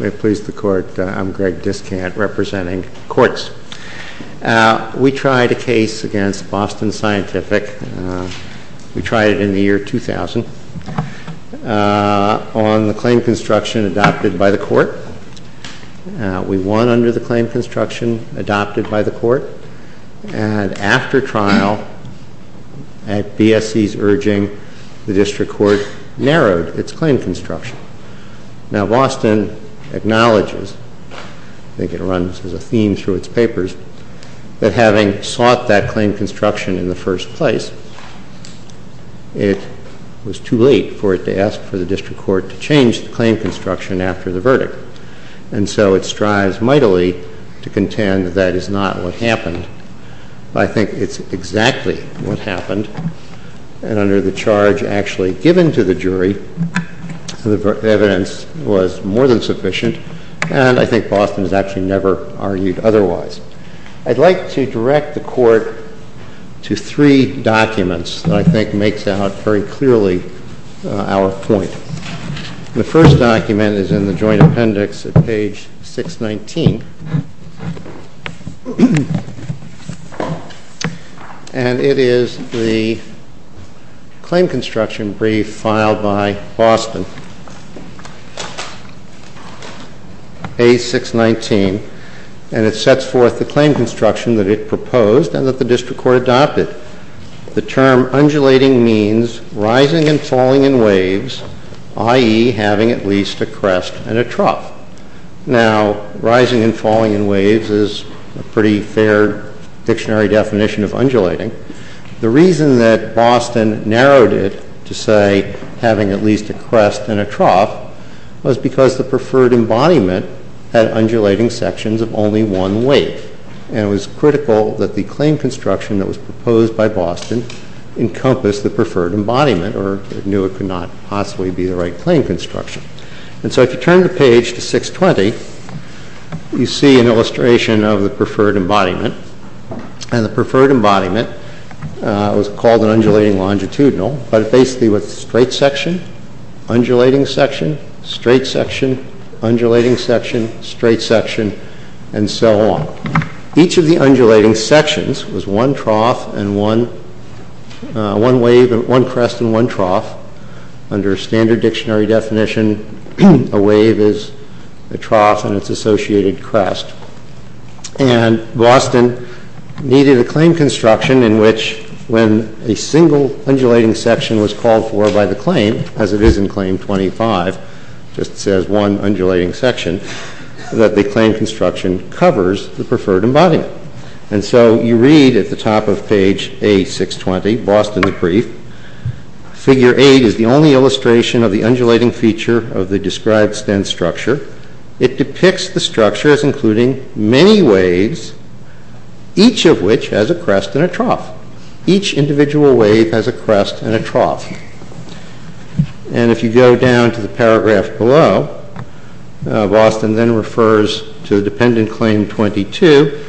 We tried a case against Boston Scientific, we tried it in the year 2000, on the claim construction adopted by the court. We won under the claim construction adopted by the court, and after trial, at BSC's urging, the district court narrowed its claim construction. Now, Boston acknowledges, I think it runs as a theme through its papers, that having sought that claim construction in the first place, it was too late for it to ask for the district court to change the claim construction after the verdict. And so it strives mightily to contend that that is not what happened. I think it's exactly what happened, and under the charge actually given to the jury, the evidence was more than sufficient, and I think Boston has actually never argued otherwise. I'd like to direct the court to three documents that I think makes out very clearly our point. The first document is in the joint appendix at page 619, and it is the claim construction brief filed by Boston, page 619, and it sets forth the claim construction that it proposed and that the district court adopted. The term undulating means rising and falling in waves, i.e., having at least a crest and a trough. Now, rising and falling in waves is a pretty fair dictionary definition of undulating. The reason that Boston narrowed it to say having at least a crest and a trough was because the preferred embodiment had undulating sections of only one wave, and it was critical that the claim construction that was proposed by Boston encompass the preferred embodiment or knew it could not possibly be the right claim construction. And so if you turn the page to 620, you see an illustration of the preferred embodiment, and the preferred embodiment was called an undulating longitudinal, but it basically was a straight section, undulating section, straight section, undulating section, straight section, and so on. Each of the undulating sections was one trough and one wave, one crest and one trough. Under standard dictionary definition, a wave is a trough and its associated crest. And Boston needed a claim construction in which when a single undulating section was called for by the claim, as it is in Claim 25, it just says one undulating section, that the claim construction covers the preferred embodiment. And so you read at the top of page A620, Boston the Brief, Figure 8 is the only illustration of the undulating feature of the described stent structure. It depicts the structure as including many waves, each of which has a crest and a trough. Each individual wave has a crest and a trough. And if you go down to the paragraph below, Boston then refers to the dependent claim 22,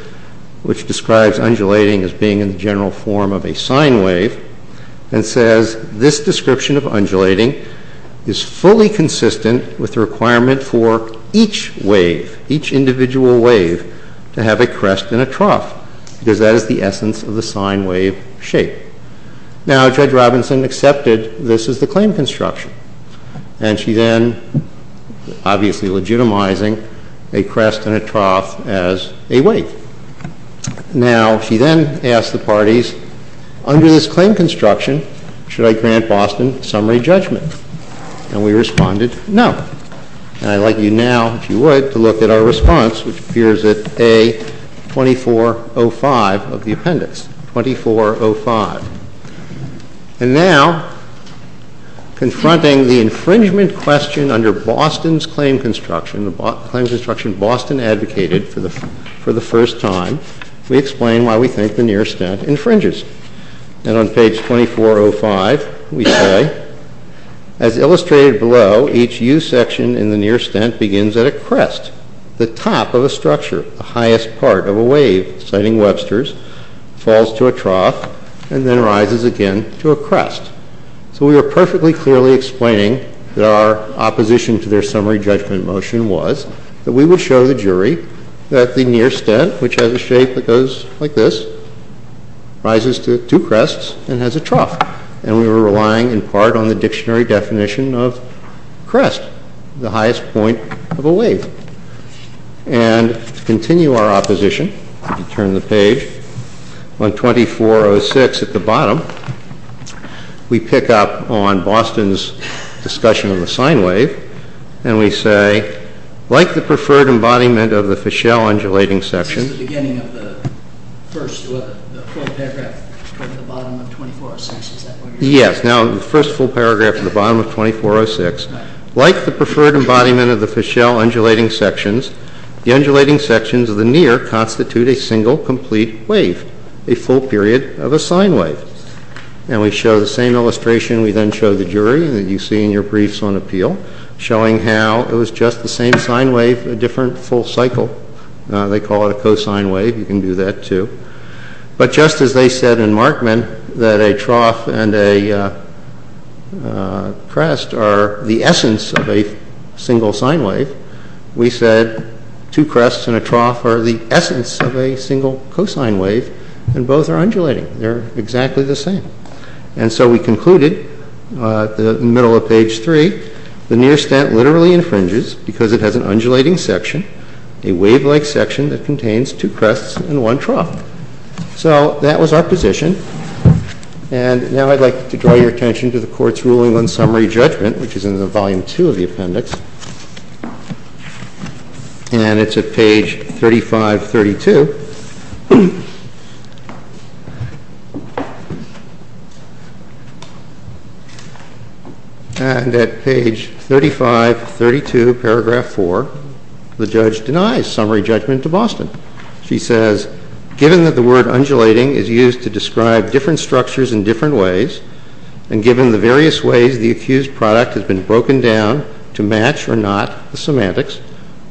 which describes undulating as being in the general form of a sine wave, and says this description of undulating is fully consistent with the requirement for each wave, each individual wave, to have a crest and a trough, because that is the essence of the sine wave shape. Now Judge Robinson accepted this as the claim construction, and she then, obviously legitimizing a crest and a trough as a wave. Now, she then asked the parties, under this claim construction, should I grant Boston summary judgment? And we responded, no. And I'd like you now, if you would, to look at our response, which appears at A2405 of the appendix, 2405. And now, confronting the infringement question under Boston's claim construction, and the claim construction Boston advocated for the first time, we explain why we think the near stent infringes. And on page 2405, we say, as illustrated below, each U-section in the near stent begins at a crest, the top of a structure, the highest part of a wave, citing Webster's, falls to a trough, and then rises again to a crest. So we were perfectly clearly explaining that our opposition to their summary judgment motion was that we would show the jury that the near stent, which has a shape that goes like this, rises to two crests and has a trough. And we were relying in part on the dictionary definition of crest, the highest point of a wave. And to continue our opposition, if you turn the page, on 2406 at the bottom, we pick up on Boston's discussion of the sine wave, and we say, like the preferred embodiment of the Fischel undulating sections... This is the beginning of the first full paragraph at the bottom of 2406, is that what you're saying? Yes, now, the first full paragraph at the bottom of 2406. Like the preferred embodiment of the Fischel undulating sections, the undulating sections of the near constitute a single complete wave, a full period of a sine wave. And we show the same illustration, we then show the jury, that you see in your briefs on appeal, showing how it was just the same sine wave, a different full cycle. They call it a cosine wave, you can do that too. But just as they said in Markman that a trough and a crest are the essence of a single sine wave, we said two crests and a trough are the essence of a single cosine wave, and both are undulating, they're exactly the same. And so we concluded, in the middle of page 3, the near stent literally infringes because it has an undulating section, a wave-like section that contains two crests and one trough. So, that was our position, and now I'd like to draw your attention to the court's ruling on summary judgment, which is in the volume 2 of the appendix, and it's at page 3532. And at page 3532, paragraph 4, the judge denies summary judgment to Boston. She says, given that the word undulating is used to describe different structures in different ways, and given the various ways the accused product has been broken down to match or not the semantics,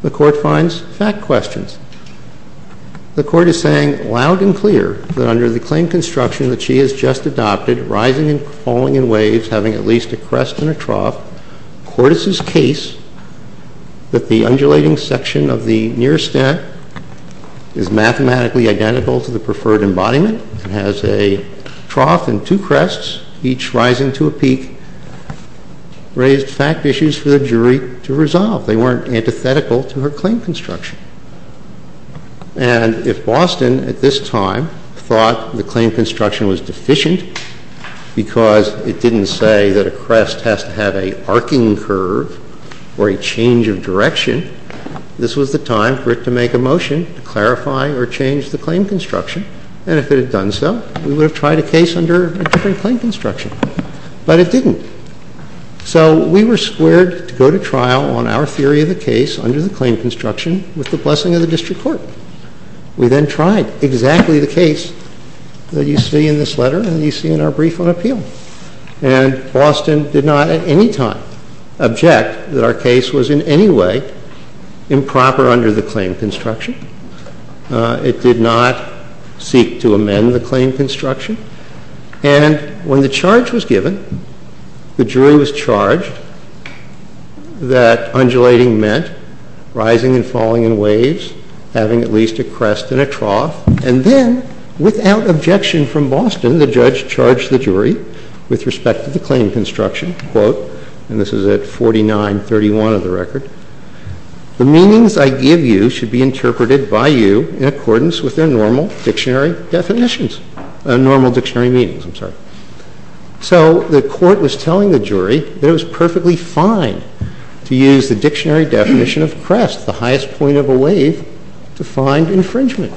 the court finds fact questions. The court is saying, loud and clear, that under the claim construction that she has just adopted, rising and falling in waves, having at least a crest and a trough, court is his case that the undulating section of the near stent is mathematically identical to the preferred embodiment, has a trough and two crests, each rising to a peak, raised fact issues for the jury to resolve. They weren't antithetical to her claim construction. And if Boston, at this time, thought the claim construction was deficient because it didn't say that a crest has to have an arcing curve or a change of direction, this was the time for it to make a motion to clarify or change the claim construction, and if it had done so, we would have tried a case under a different claim construction. But it didn't. So we were squared to go to trial on our theory of the case under the claim construction with the blessing of the district court. We then tried exactly the case that you see in this letter and that you see in our brief on appeal. And Boston did not, at any time, object that our case was in any way improper under the claim construction. It did not seek to amend the claim construction. And when the charge was given, the jury was charged that undulating meant rising and falling in waves, having at least a crest and a trough, and then, without objection from Boston, the judge charged the jury with respect to the claim construction, and this is at 49-31 of the record, the meanings I give you should be interpreted by you in accordance with their normal dictionary definitions. Normal dictionary meanings, I'm sorry. So the court was telling the jury that it was perfectly fine to use the dictionary definition of crest, the highest point of a wave, to find infringement.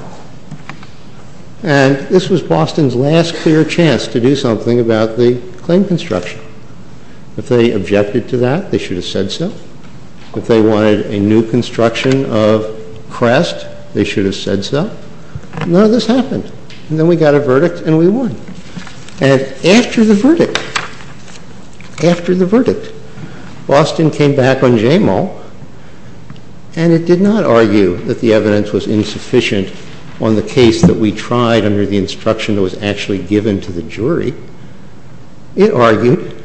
And this was Boston's last clear chance to do something about the claim construction. If they objected to that, they should have said so. If they wanted a new construction of crest, they should have said so. None of this happened. And then we got a verdict, and we won. And after the verdict, after the verdict, Boston came back on Jamal, and it did not argue that the evidence was insufficient on the case that we tried under the instruction that was actually given to the jury. It argued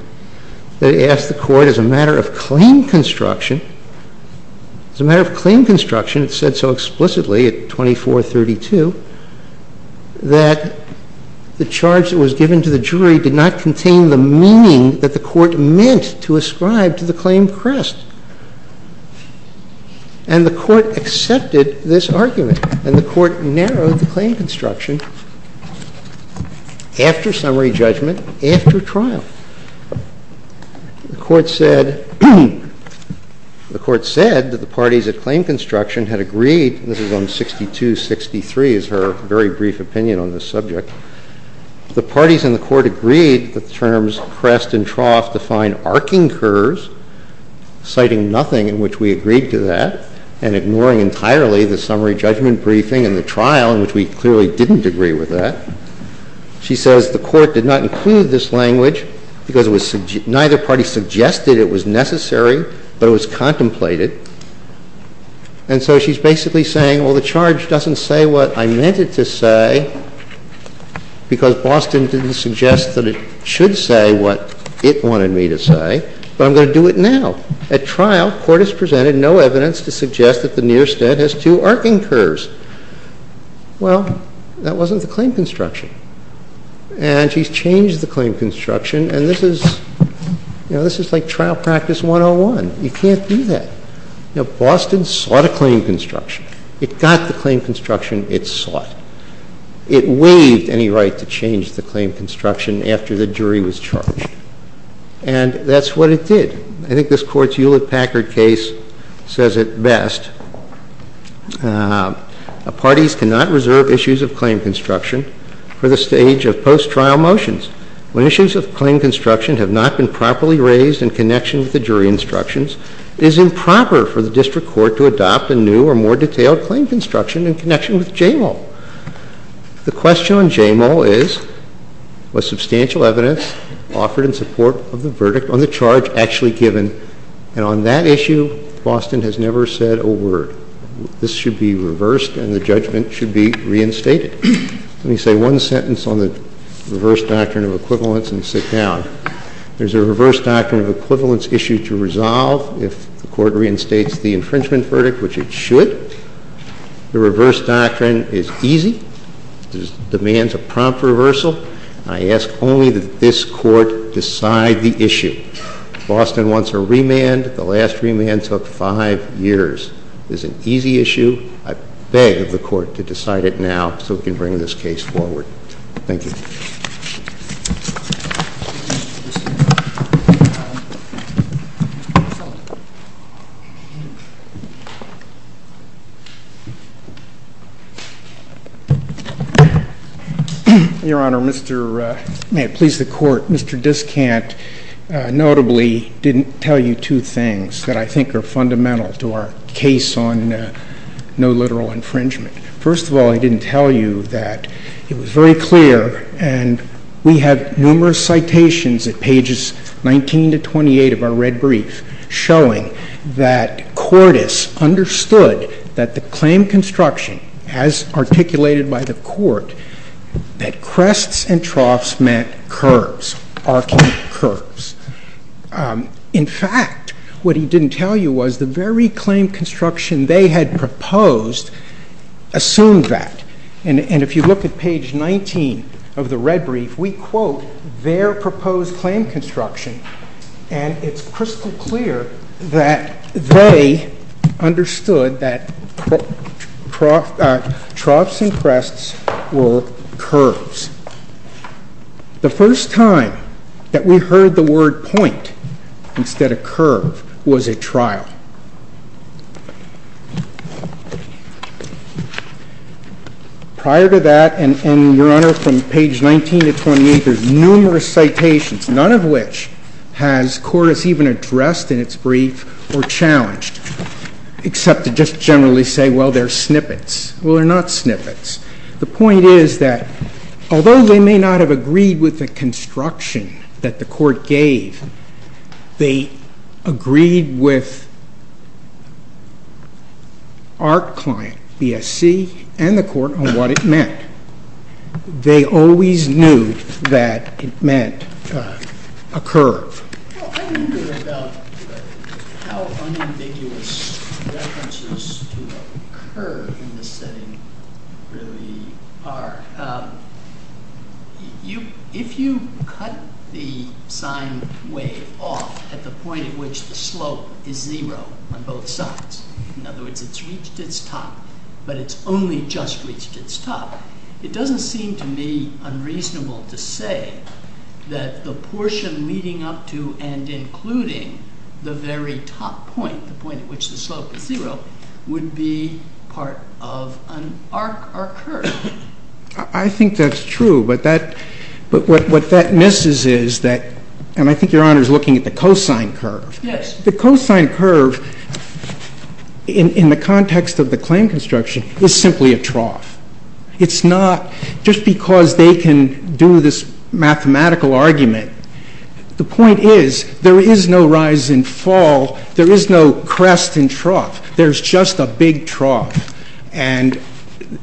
that it asked the court as a matter of claim construction, as a matter of claim construction, it said so explicitly at 2432, that the charge that was given to the jury did not contain the meaning that the court meant to ascribe to the claim crest. And the court accepted this argument. And the court narrowed the claim construction after summary judgment, after trial. The court said that the parties that claimed construction had agreed, and this is on 6263, is her very brief opinion on this subject, the parties in the court agreed that the terms crest and trough define arcing curves, citing nothing in which we agreed to that, and ignoring entirely the summary judgment briefing and the trial in which we clearly didn't agree with that. She says the court did not include this language because neither party suggested it was necessary, but it was contemplated. And so she's basically saying, well, the charge doesn't say what I meant it to say because Boston didn't suggest that it should say what it wanted me to say, but I'm going to do it now. At trial, court has presented no evidence to suggest that the near stead has two arcing curves. Well, that wasn't the claim construction. And she's changed the claim construction, and this is like trial practice 101. You can't do that. Boston sought a claim construction. It got the claim construction it sought. It waived any right to change the claim construction after the jury was charged. And that's what it did. I think this court's Hewlett-Packard case says it best. Parties cannot reserve issues of claim construction for the stage of post-trial motions. When issues of claim construction have not been properly raised in connection with the jury instructions, it is improper for the district court to adopt a new or more detailed claim construction in connection with JAMAL. The question on JAMAL is, was substantial evidence offered in support of the verdict on the charge actually given? And on that issue, Boston has never said a word. This should be reversed, and the judgment should be reinstated. Let me say one sentence on the reverse doctrine of equivalence and sit down. There's a reverse doctrine of equivalence issue to resolve if the court reinstates the infringement verdict, which it should. The reverse doctrine is easy. It just demands a prompt reversal. I ask only that this court decide the issue. Boston wants a remand. The last remand took five years. It is an easy issue. I beg of the court to decide it now so we can bring this case forward. Thank you. Your Honor, may it please the court, Mr. Discant notably didn't tell you two things that I think are fundamental to our case on no literal infringement. First of all, I didn't tell you that it was very clear, and we have numerous citations at pages 19 to 28 of our red brief showing that Cordes understood that the claim construction, as articulated by the court, that crests and troughs meant curves, arching curves. In fact, what he didn't tell you was the very claim construction they had proposed assumed that. And if you look at page 19 of the red brief, we quote their proposed claim construction and it's crystal clear that they understood that troughs and crests were curves. The first time that we heard the word point instead of curve was at trial. Prior to that, and, Your Honor, from page 19 to 28, there's numerous citations, none of which has Cordes even addressed in its brief or challenged, except to just generally say, well, they're snippets. Well, they're not snippets. The point is that although they may not have agreed with the construction that the court gave, they agreed with our client, BSC, and the court on what it meant. They always knew that it meant a curve. I wonder about how unambiguous references to a curve in this setting really are. If you cut the sine wave off at the point at which the slope is zero on both sides, in other words, it's reached its top, but it's only just reached its top, it doesn't seem to me unreasonable to say that the portion leading up to and including the very top point, the point at which the slope is zero, would be part of an arc or curve. I think that's true, but what that misses is that, and I think Your Honor is looking at the cosine curve. The cosine curve in the context of the claim construction is simply a trough. It's not, just because they can do this mathematical argument, the point is, there is no rise and fall, there is no crest and trough. There's just a big trough.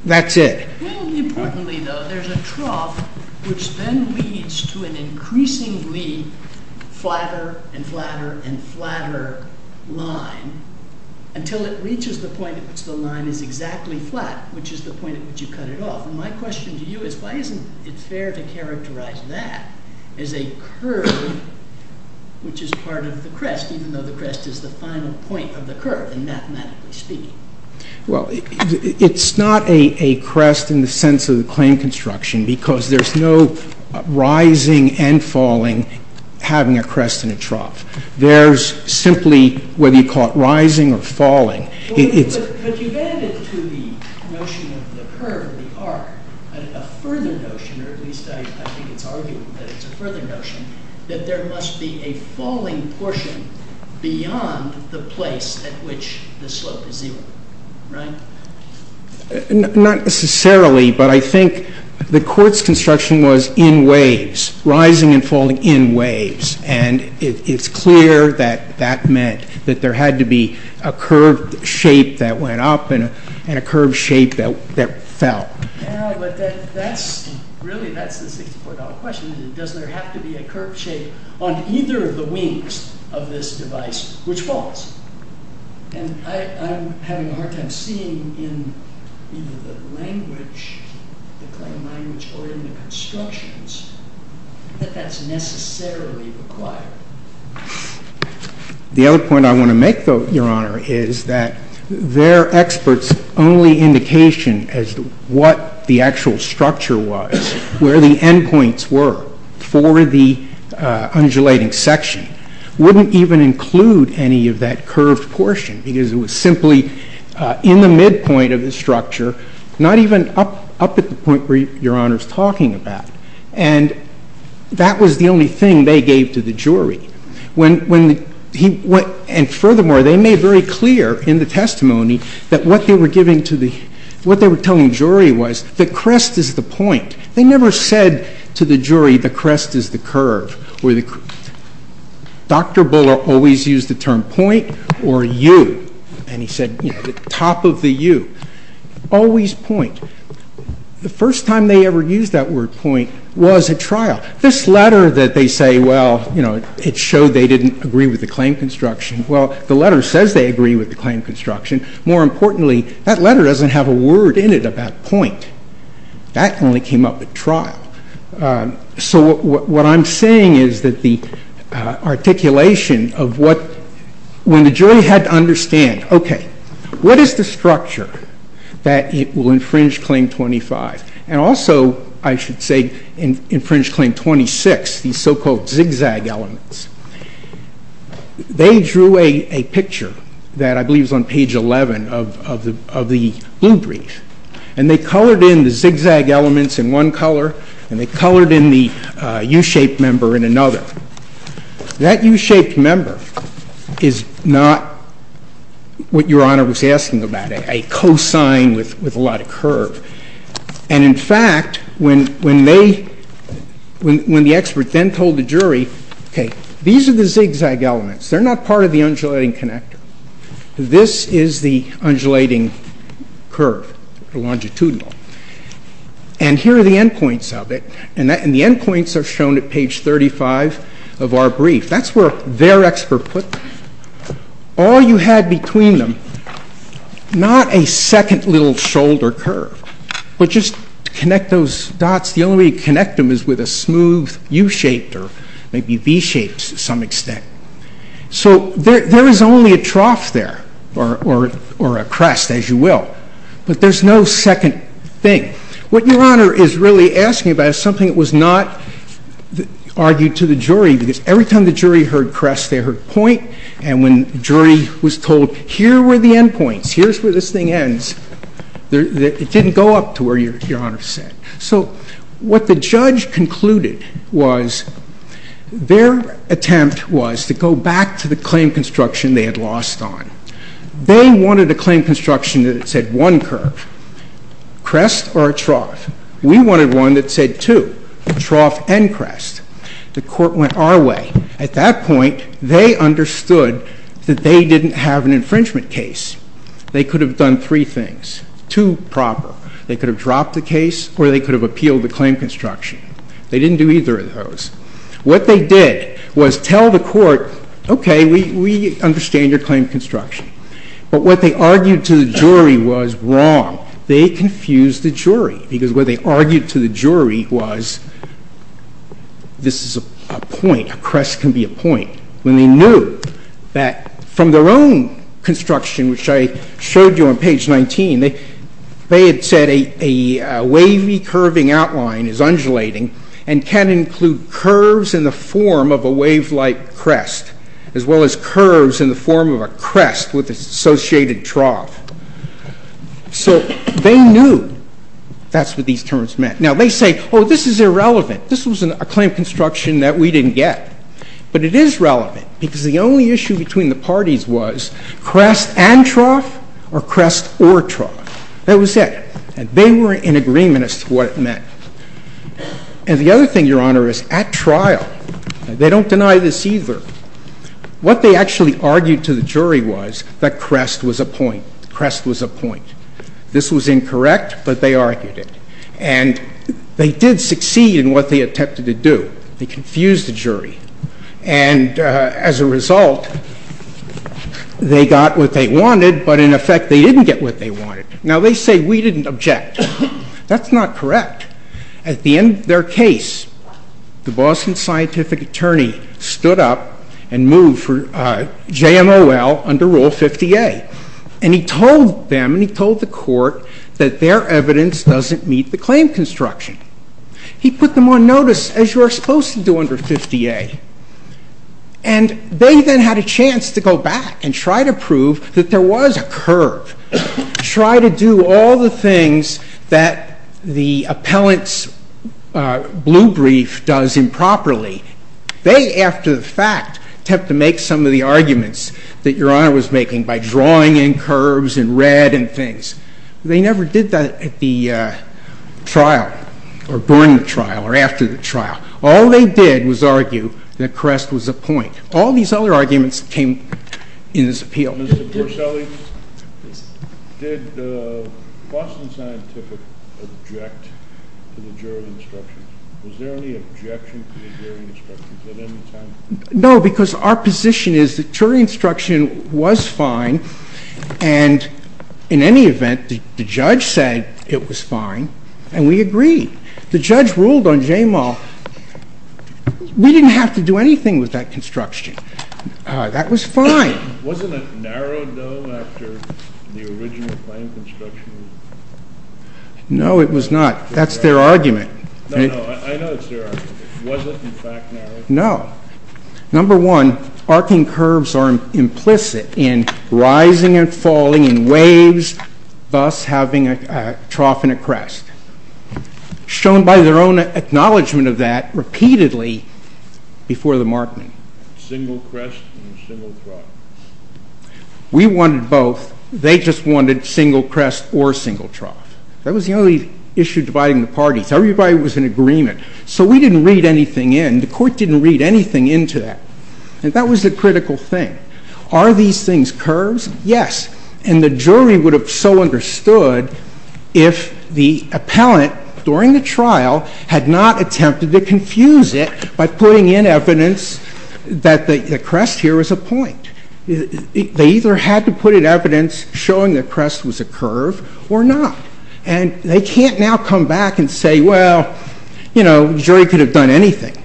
That's it. Importantly though, there's a trough which then leads to an increasingly flatter and flatter and flatter line until it reaches the point at which the line is exactly flat, which is the point at which you cut it off. My question to you is why isn't it fair to characterize that as a curve which is part of the crest, even though the crest is the final point of the curve, mathematically speaking? Well, it's not a crest in the sense of the claim construction, because there's no rising and falling having a crest and a trough. There's simply whether you call it rising or falling. But you've added to the notion of the curve, the arc, a further notion, or at least I think it's argued that it's a further notion, that there must be a falling portion beyond the place at which the slope is zero. Right? Not necessarily, but I think the court's construction was in waves, rising and falling in waves, and it's clear that that meant that there had to be a curved shape that went up and a curved shape that fell. Yeah, but that's really, that's the $64 question. Does there have to be a curved shape on either of the wings of this device which falls? And I'm having a hard time seeing in either the language, the claim language, or in the constructions, that that's necessarily required. The other point I want to make, though, Your Honor, is that they're experts only indication as to what the actual structure was, where the endpoints were for the undulating section, wouldn't even include any of that curved portion because it was simply in the midpoint of the structure, not even up at the point where Your Honor's talking about. And that was the only thing they gave to the jury. When he went, and furthermore, they made very clear in the testimony that what they were giving to the, what they were telling the jury was, the crest is the point. They never said to the jury, the crest is the curve. Dr. Buller always used the term point or U. And he said, top of the U. Always point. The first time they ever used that word point was at trial. This letter that they say, well, you know, it showed they didn't agree with the claim construction. Well, the letter says they agree with the claim construction. More importantly, that point, that only came up at trial. So what I'm saying is that the articulation of what, when the jury had to understand, okay, what is the structure that will infringe Claim 25? And also, I should say, infringe Claim 26, these so-called zigzag elements. They drew a picture that I believe is on page 11 of the blue brief. And they colored in the zigzag elements in one color and they colored in the U-shaped member in another. That U-shaped member is not what Your Honor was asking about. A cosine with a lot of curve. And in fact, when they, when the expert then told the jury, okay, these are the zigzag elements. They're not part of the undulating connector. This is the undulating curve. The longitudinal. And here are the endpoints of it. And the endpoints are shown at page 35 of our brief. That's where their expert put them. All you had between them, not a second little shoulder curve, but just to connect those dots, the only way to connect them is with a smooth U-shaped or maybe V-shaped to some extent. So there is only a trough there, or a crest, as you will. But there's no second thing. What Your Honor is really asking about is something that was not argued to the jury. Because every time the jury heard crest, they heard point. And when the jury was told here were the endpoints, here's where this thing ends, it didn't go up to where Your Honor said. So what the judge concluded was their attempt was to go back to the claim construction they had lost on. They wanted a claim construction that said one curve. Crest or a trough? We wanted one that said two. Trough and crest. The court went our way. At that point, they understood that they didn't have an infringement case. They could have done three things. Two proper. They could have dropped the case, or they could have appealed the claim construction. They didn't do either of those. What they did was tell the court, okay, we understand your claim construction. But what they argued to the jury was wrong. They confused the jury because what they argued to the jury was this is a point. A crest can be a point. When they knew that from their own construction, which I showed you on page 19, they had said a wavy, curving outline is undulating and can include curves in the form of a wave-like crest, as well as curves in the form of a crest with its associated trough. So they knew that's what these terms meant. Now, they say, oh, this is irrelevant. This was a claim construction that we didn't get. But it is relevant because the only issue between the parties was crest and trough or crest or trough. That was it. And they were in agreement as to what it was. Now, the other thing, Your Honor, is at trial, they don't deny this either, what they actually argued to the jury was that crest was a point. Crest was a point. This was incorrect, but they argued it. And they did succeed in what they attempted to do. They confused the jury. And as a result, they got what they wanted, but in effect, they didn't get what they wanted. Now, they say we didn't object. That's not correct. At the end of their case, the Boston Scientific Attorney stood up and moved for JMOL under Rule 50A. And he told them and he told the court that their evidence doesn't meet the claim construction. He put them on notice, as you are supposed to do under 50A. And they then had a chance to go back and try to prove that there was a curve. Try to do all the things that the appellant's blue brief does improperly. They, after the fact, attempt to make some of the arguments that Your Honor was making by drawing in curves and red and things. They never did that at the trial or during the trial or after the trial. All they did was argue that crest was a point. All these other arguments came in this appeal. Mr. Borselli, did Boston Scientific object to the jury instructions? Was there any objection to the jury instructions at any time? No, because our position is that jury instruction was fine and in any event, the judge said it was fine and we agreed. The judge ruled on JMOL. We didn't have to do anything with that construction. That was fine. Wasn't it narrowed, though, after the original plan of construction? No, it was not. That's their argument. I know it's their argument. Was it, in fact, narrowed? No. Number one, arcing curves are implicit in rising and falling in waves, thus having a trough and a crest. Shown by their own acknowledgement of that repeatedly before the Markman. Single crest or single trough? We wanted both. They just wanted single crest or single trough. That was the only issue dividing the parties. Everybody was in agreement. So we didn't read anything in. The court didn't read anything into that. And that was the critical thing. Are these things curves? Yes. And the jury would have so understood if the appellant during the trial had not attempted to confuse it by putting in evidence that the crest here was a point. They either had to put in evidence showing the crest was a curve or not. And they can't now come back and say, well, you know, the jury could have done anything.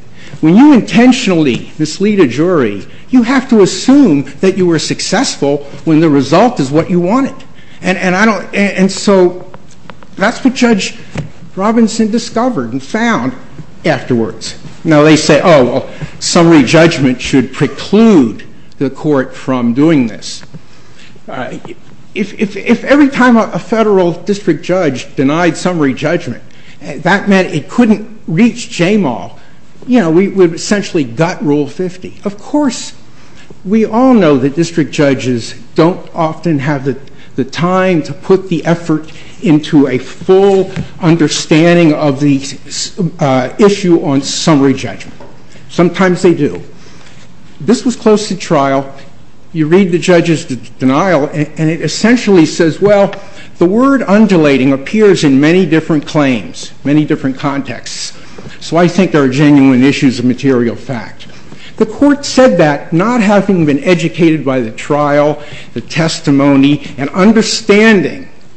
When you intentionally mislead a jury, you have to assume that you were successful when the result is what you wanted. And so that's what Judge Robinson discovered and found afterwards. Now they say, oh well, summary judgment should preclude the court from doing this. If every time a federal district judge denied summary judgment, that meant it couldn't reach JMAL. You know, we would essentially gut Rule 50. Of course we all know that district judges don't often have the time to put the effort into a full understanding of the issue on summary judgment. Sometimes they do. This was close to trial. You read the judge's denial and it essentially says, well, the word undulating appears in many different claims, many different contexts. So I think there are genuine issues of material fact. The court said that, not having been educated by the trial, the testimony, and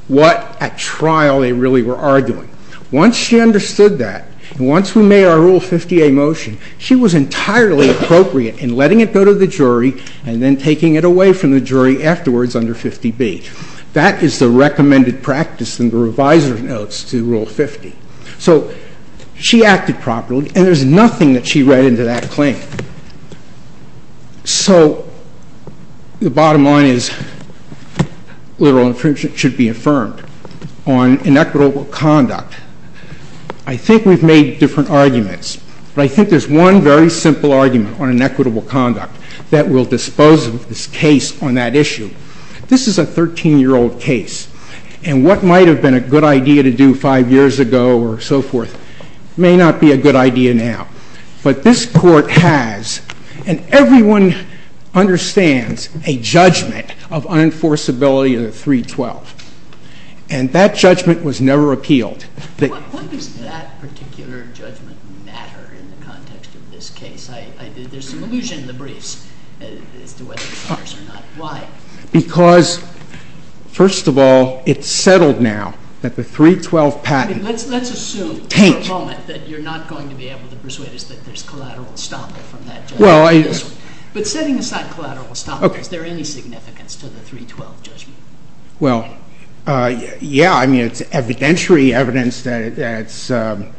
not at trial they really were arguing. Once she understood that, and once we made our Rule 50A motion, she was entirely appropriate in letting it go to the jury and then taking it away from the jury afterwards under 50B. That is the recommended practice in the revised notes to Rule 50. So she acted properly and there's nothing that she read into that claim. So the bottom line is literal infringement should be affirmed on inequitable conduct. I think we've made different arguments, but I think there's one very simple argument on inequitable conduct that will dispose of this case on that issue. This is a 13-year-old case, and what might have been a good idea to do five years ago or so forth may not be a good idea now. But this court has, and everyone understands a judgment of unenforceability of the 312. And that judgment was never appealed. What does that particular judgment matter in the context of this case? There's an illusion in the briefs as to whether it matters or not. Why? Because, first of all, it's settled now that the 312 patent Let's assume for a moment that you're not going to be able to persuade us that there's collateral estoppel from that judgment. But setting aside collateral estoppel, is there any significance to the 312 judgment? Yeah, I mean, it's evidentiary evidence that it's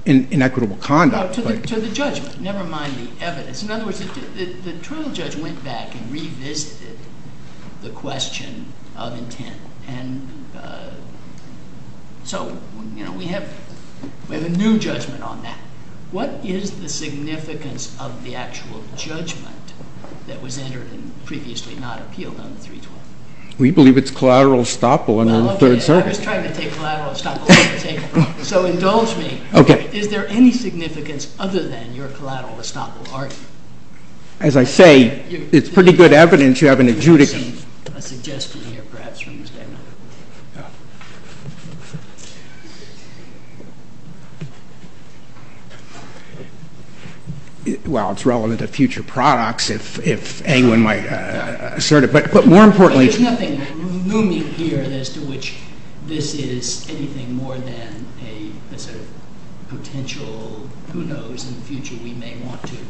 inequitable conduct. To the judgment, never mind the evidence. In other words, the trial judge went back and revisited the question of intent. So, you know, we have a new judgment on that. What is the judgment that was entered and previously not appealed on the 312? We believe it's collateral estoppel in the third circuit. So, indulge me. Is there any significance other than your collateral estoppel? As I say, it's pretty good evidence you have an adjudication. Well, it's relevant to future products. If anyone might assert it. But more importantly... There's nothing looming here as to which this is anything more than a potential, who knows, in the future we may want to It's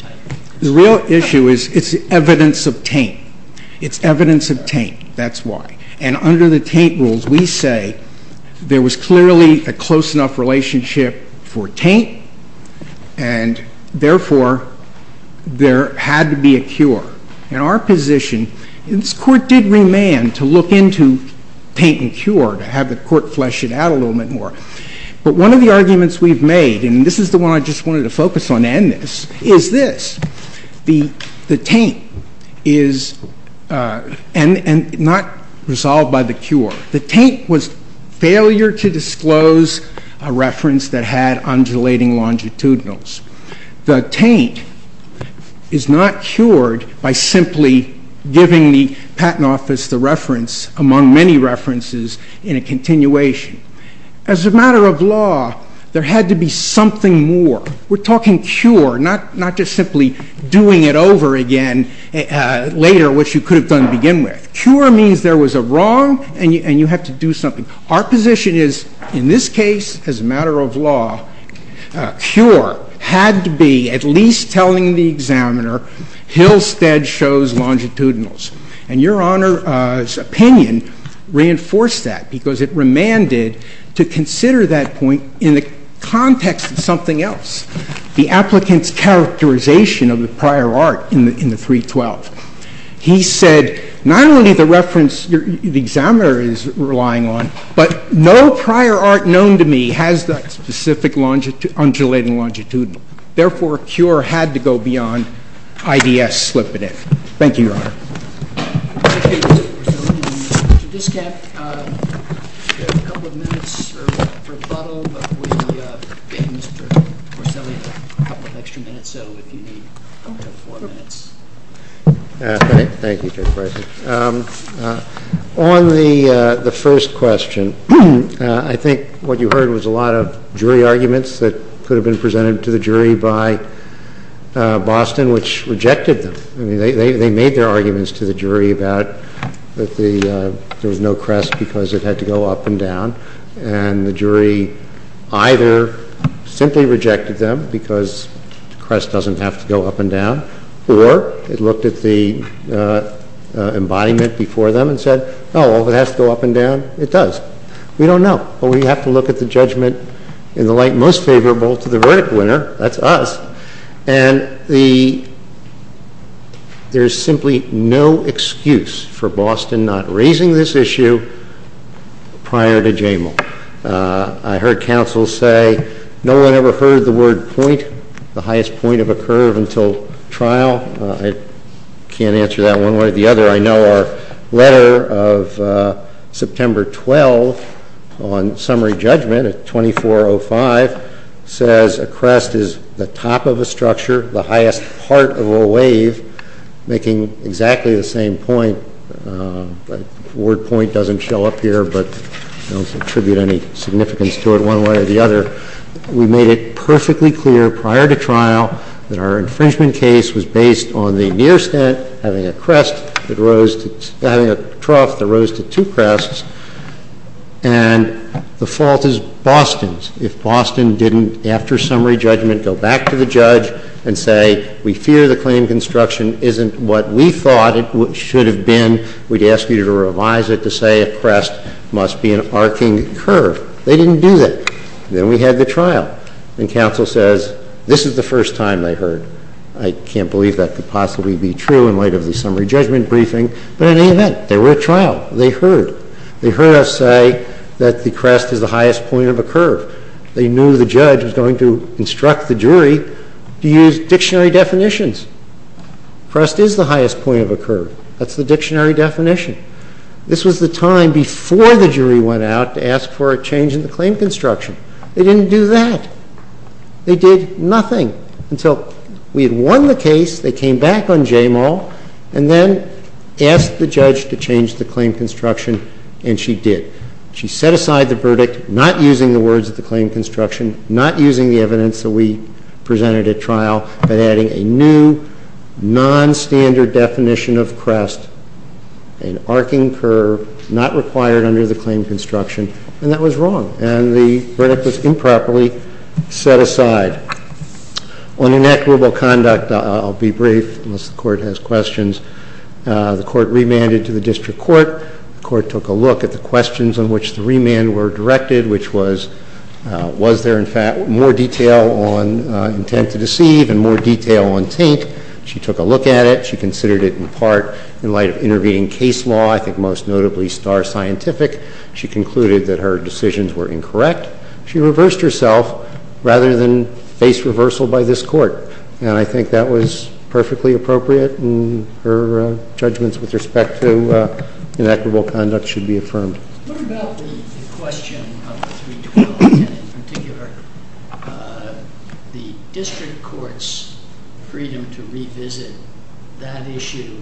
evidence obtained from the trial. It's evidence obtained from the trial. It's evidence obtained. That's why. And under the Taint rules, we say there was clearly a close enough relationship for Taint, and therefore there had to be a cure. In our position, this Court did remand to look into Taint and cure to have the Court flesh it out a little bit more. But one of the arguments we've made, and this is the one I just wanted to focus on and remand this, is this. The Taint is, and not resolved by the cure, the Taint was failure to disclose a reference that had undulating longitudinals. The Taint is not cured by simply giving the Patent Office the reference, among many references, in a continuation. As a matter of law, there had to be something more. We're talking cure, not just simply doing it over again later, which you could have done to begin with. Cure means there was a wrong, and you have to do something. Our position is, in this case, as a matter of law, cure had to be at least telling the examiner Hillstead shows longitudinals. And Your Honor's opinion reinforced that because it remanded to consider that point in the context of something else. The applicant's characterization of the prior art in the 312. He said not only the reference the examiner is relying on, but no prior art known to me has that specific Therefore, cure had to go beyond IDS slipping in. Thank you, Your Honor. Thank you, Mr. Porcelli and Mr. Diskett. We have a couple of minutes for rebuttal, but we gave Mr. Porcelli a couple of extra minutes, so if you need four minutes. Thank you, Judge Price. On the first question, I think what you heard was a lot of jury arguments that could have been presented to the jury by Boston, which rejected them. They made their arguments to the jury about there was no crest because it had to go up and down, and the jury either simply rejected them because the crest doesn't have to go up and down, or it looked at the embodiment before them and said, oh, if it has to go up and down, it does. We don't know, but we have to look at the judgment in the light most favorable to the verdict winner. That's us. And there's simply no excuse for Boston not raising this issue prior to Jamal. I heard counsel say no one ever heard the word point, the highest point of a curve, until trial. I can't answer that one way or the other. I know our letter of September 12 on summary judgment at 24.05 says a crest is the top of a structure, the highest part of a wave, making exactly the same point. The word point doesn't show up here, but I don't attribute any significance to it one way or the other. We made it perfectly clear prior to trial that our infringement case was based on the near stent having a trough that rose to two crests, and the fault was Boston's. If Boston didn't, after summary judgment, go back to the judge and say, we fear the claim construction isn't what we thought it should have been, we'd ask you to revise it to say a crest must be an arcing curve. They didn't do that. Then we had the trial, and counsel says this is the first time they heard. I can't believe that could possibly be true in light of the summary judgment briefing, but in any event, they were at trial. They heard. They heard us say that the crest is the highest point of a curve. They knew the judge was going to instruct the jury to use dictionary definitions. Crest is the highest point of a curve. That's the dictionary definition. This was the time before the jury went out to ask for a change in the claim construction. They didn't do that. They did nothing until we had won the case, they came back on Jamal, and then asked the judge to change the claim construction, and she did. She set aside the verdict, not using the words of the claim construction, not using the evidence that we presented at trial, but adding a new nonstandard definition of crest, an arcing curve, not required under the claim construction, and that was wrong, and the verdict was improperly set aside. On inequitable conduct, I'll be brief, unless the court has questions. The court remanded to the district court. The court took a look at the questions on which the remand were directed, which was, was there in fact more detail on intent to deceive and more detail on taint? She took a look at it. She considered it in part, in light of intervening case law, I think most notably star scientific. She concluded that her decisions were incorrect. She reversed herself, rather than face reversal by this court, and I think that was perfectly appropriate, and her judgments with respect to inequitable conduct should be affirmed. What about the question of 312, and in particular the district court's freedom to revisit that issue,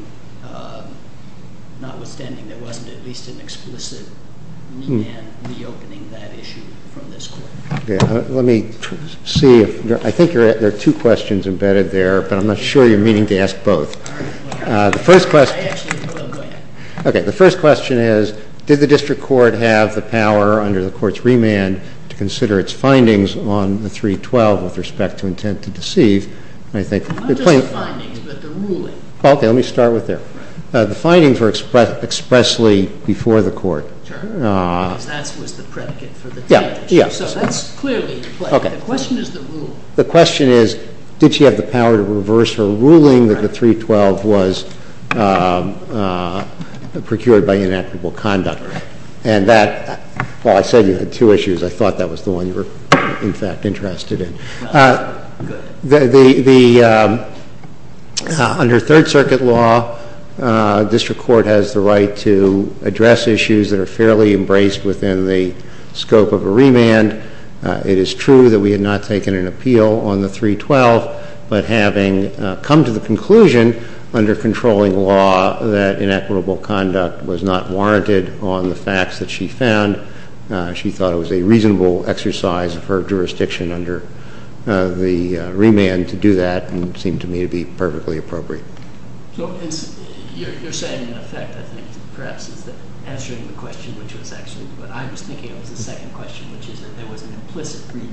notwithstanding there wasn't at least an explicit remand reopening that issue from this court? Let me see if, I think there are two questions embedded there, but I'm not sure you're meaning to ask both. The first question is, did the district court have the power under the court's remand to consider its findings on 312 with respect to intent to deceive? Not just the findings, but the ruling. Let me start with that. The findings were expressed expressly before the court. That was the predicate for the taint issue. That's clearly the question. The question is, did she have the power to reverse her ruling that the 312 was procured by inequitable conduct? And that, I said you had two issues. I thought that was the one you were, in fact, interested in. Under Third Circuit law, address issues that are fairly embraced within the scope of a remand. So, I think inequitable conduct? And that, I said you had two issues. The first question is, did she have the power to reverse her ruling that the 312 was procured by inequitable conduct? And that, I said you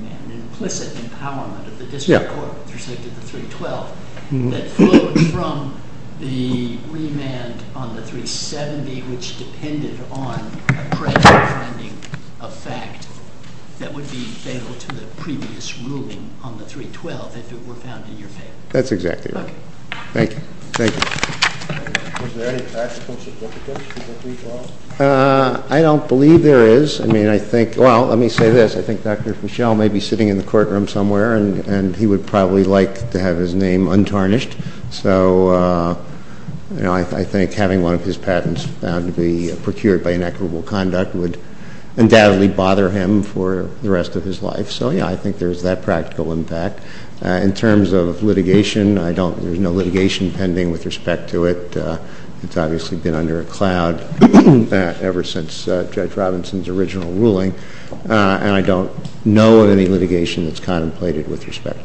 had an implicit empowerment of the district court with respect to the 312 that flowed from the remand on the 370 which depended on a present finding of fact that would be fatal to the previous ruling on the 312 if it were found in your favor. Thank you. Was there any practical significance to the 312? I don't believe there is. I mean, I think, well, let me say this. I think Dr. Fischel may be sitting in the courtroom somewhere and he would probably like to have his name untarnished. So, I think having one of his patents found to be procured by inequitable conduct would undoubtedly bother him for the rest of his life. So, yeah, I think there's that practical impact. In terms of litigation, there's no litigation pending with respect to it. It's obviously been under a cloud ever since Judge Robinson's original ruling, and I don't know of any litigation that's contemplated with respect to it. Thank you.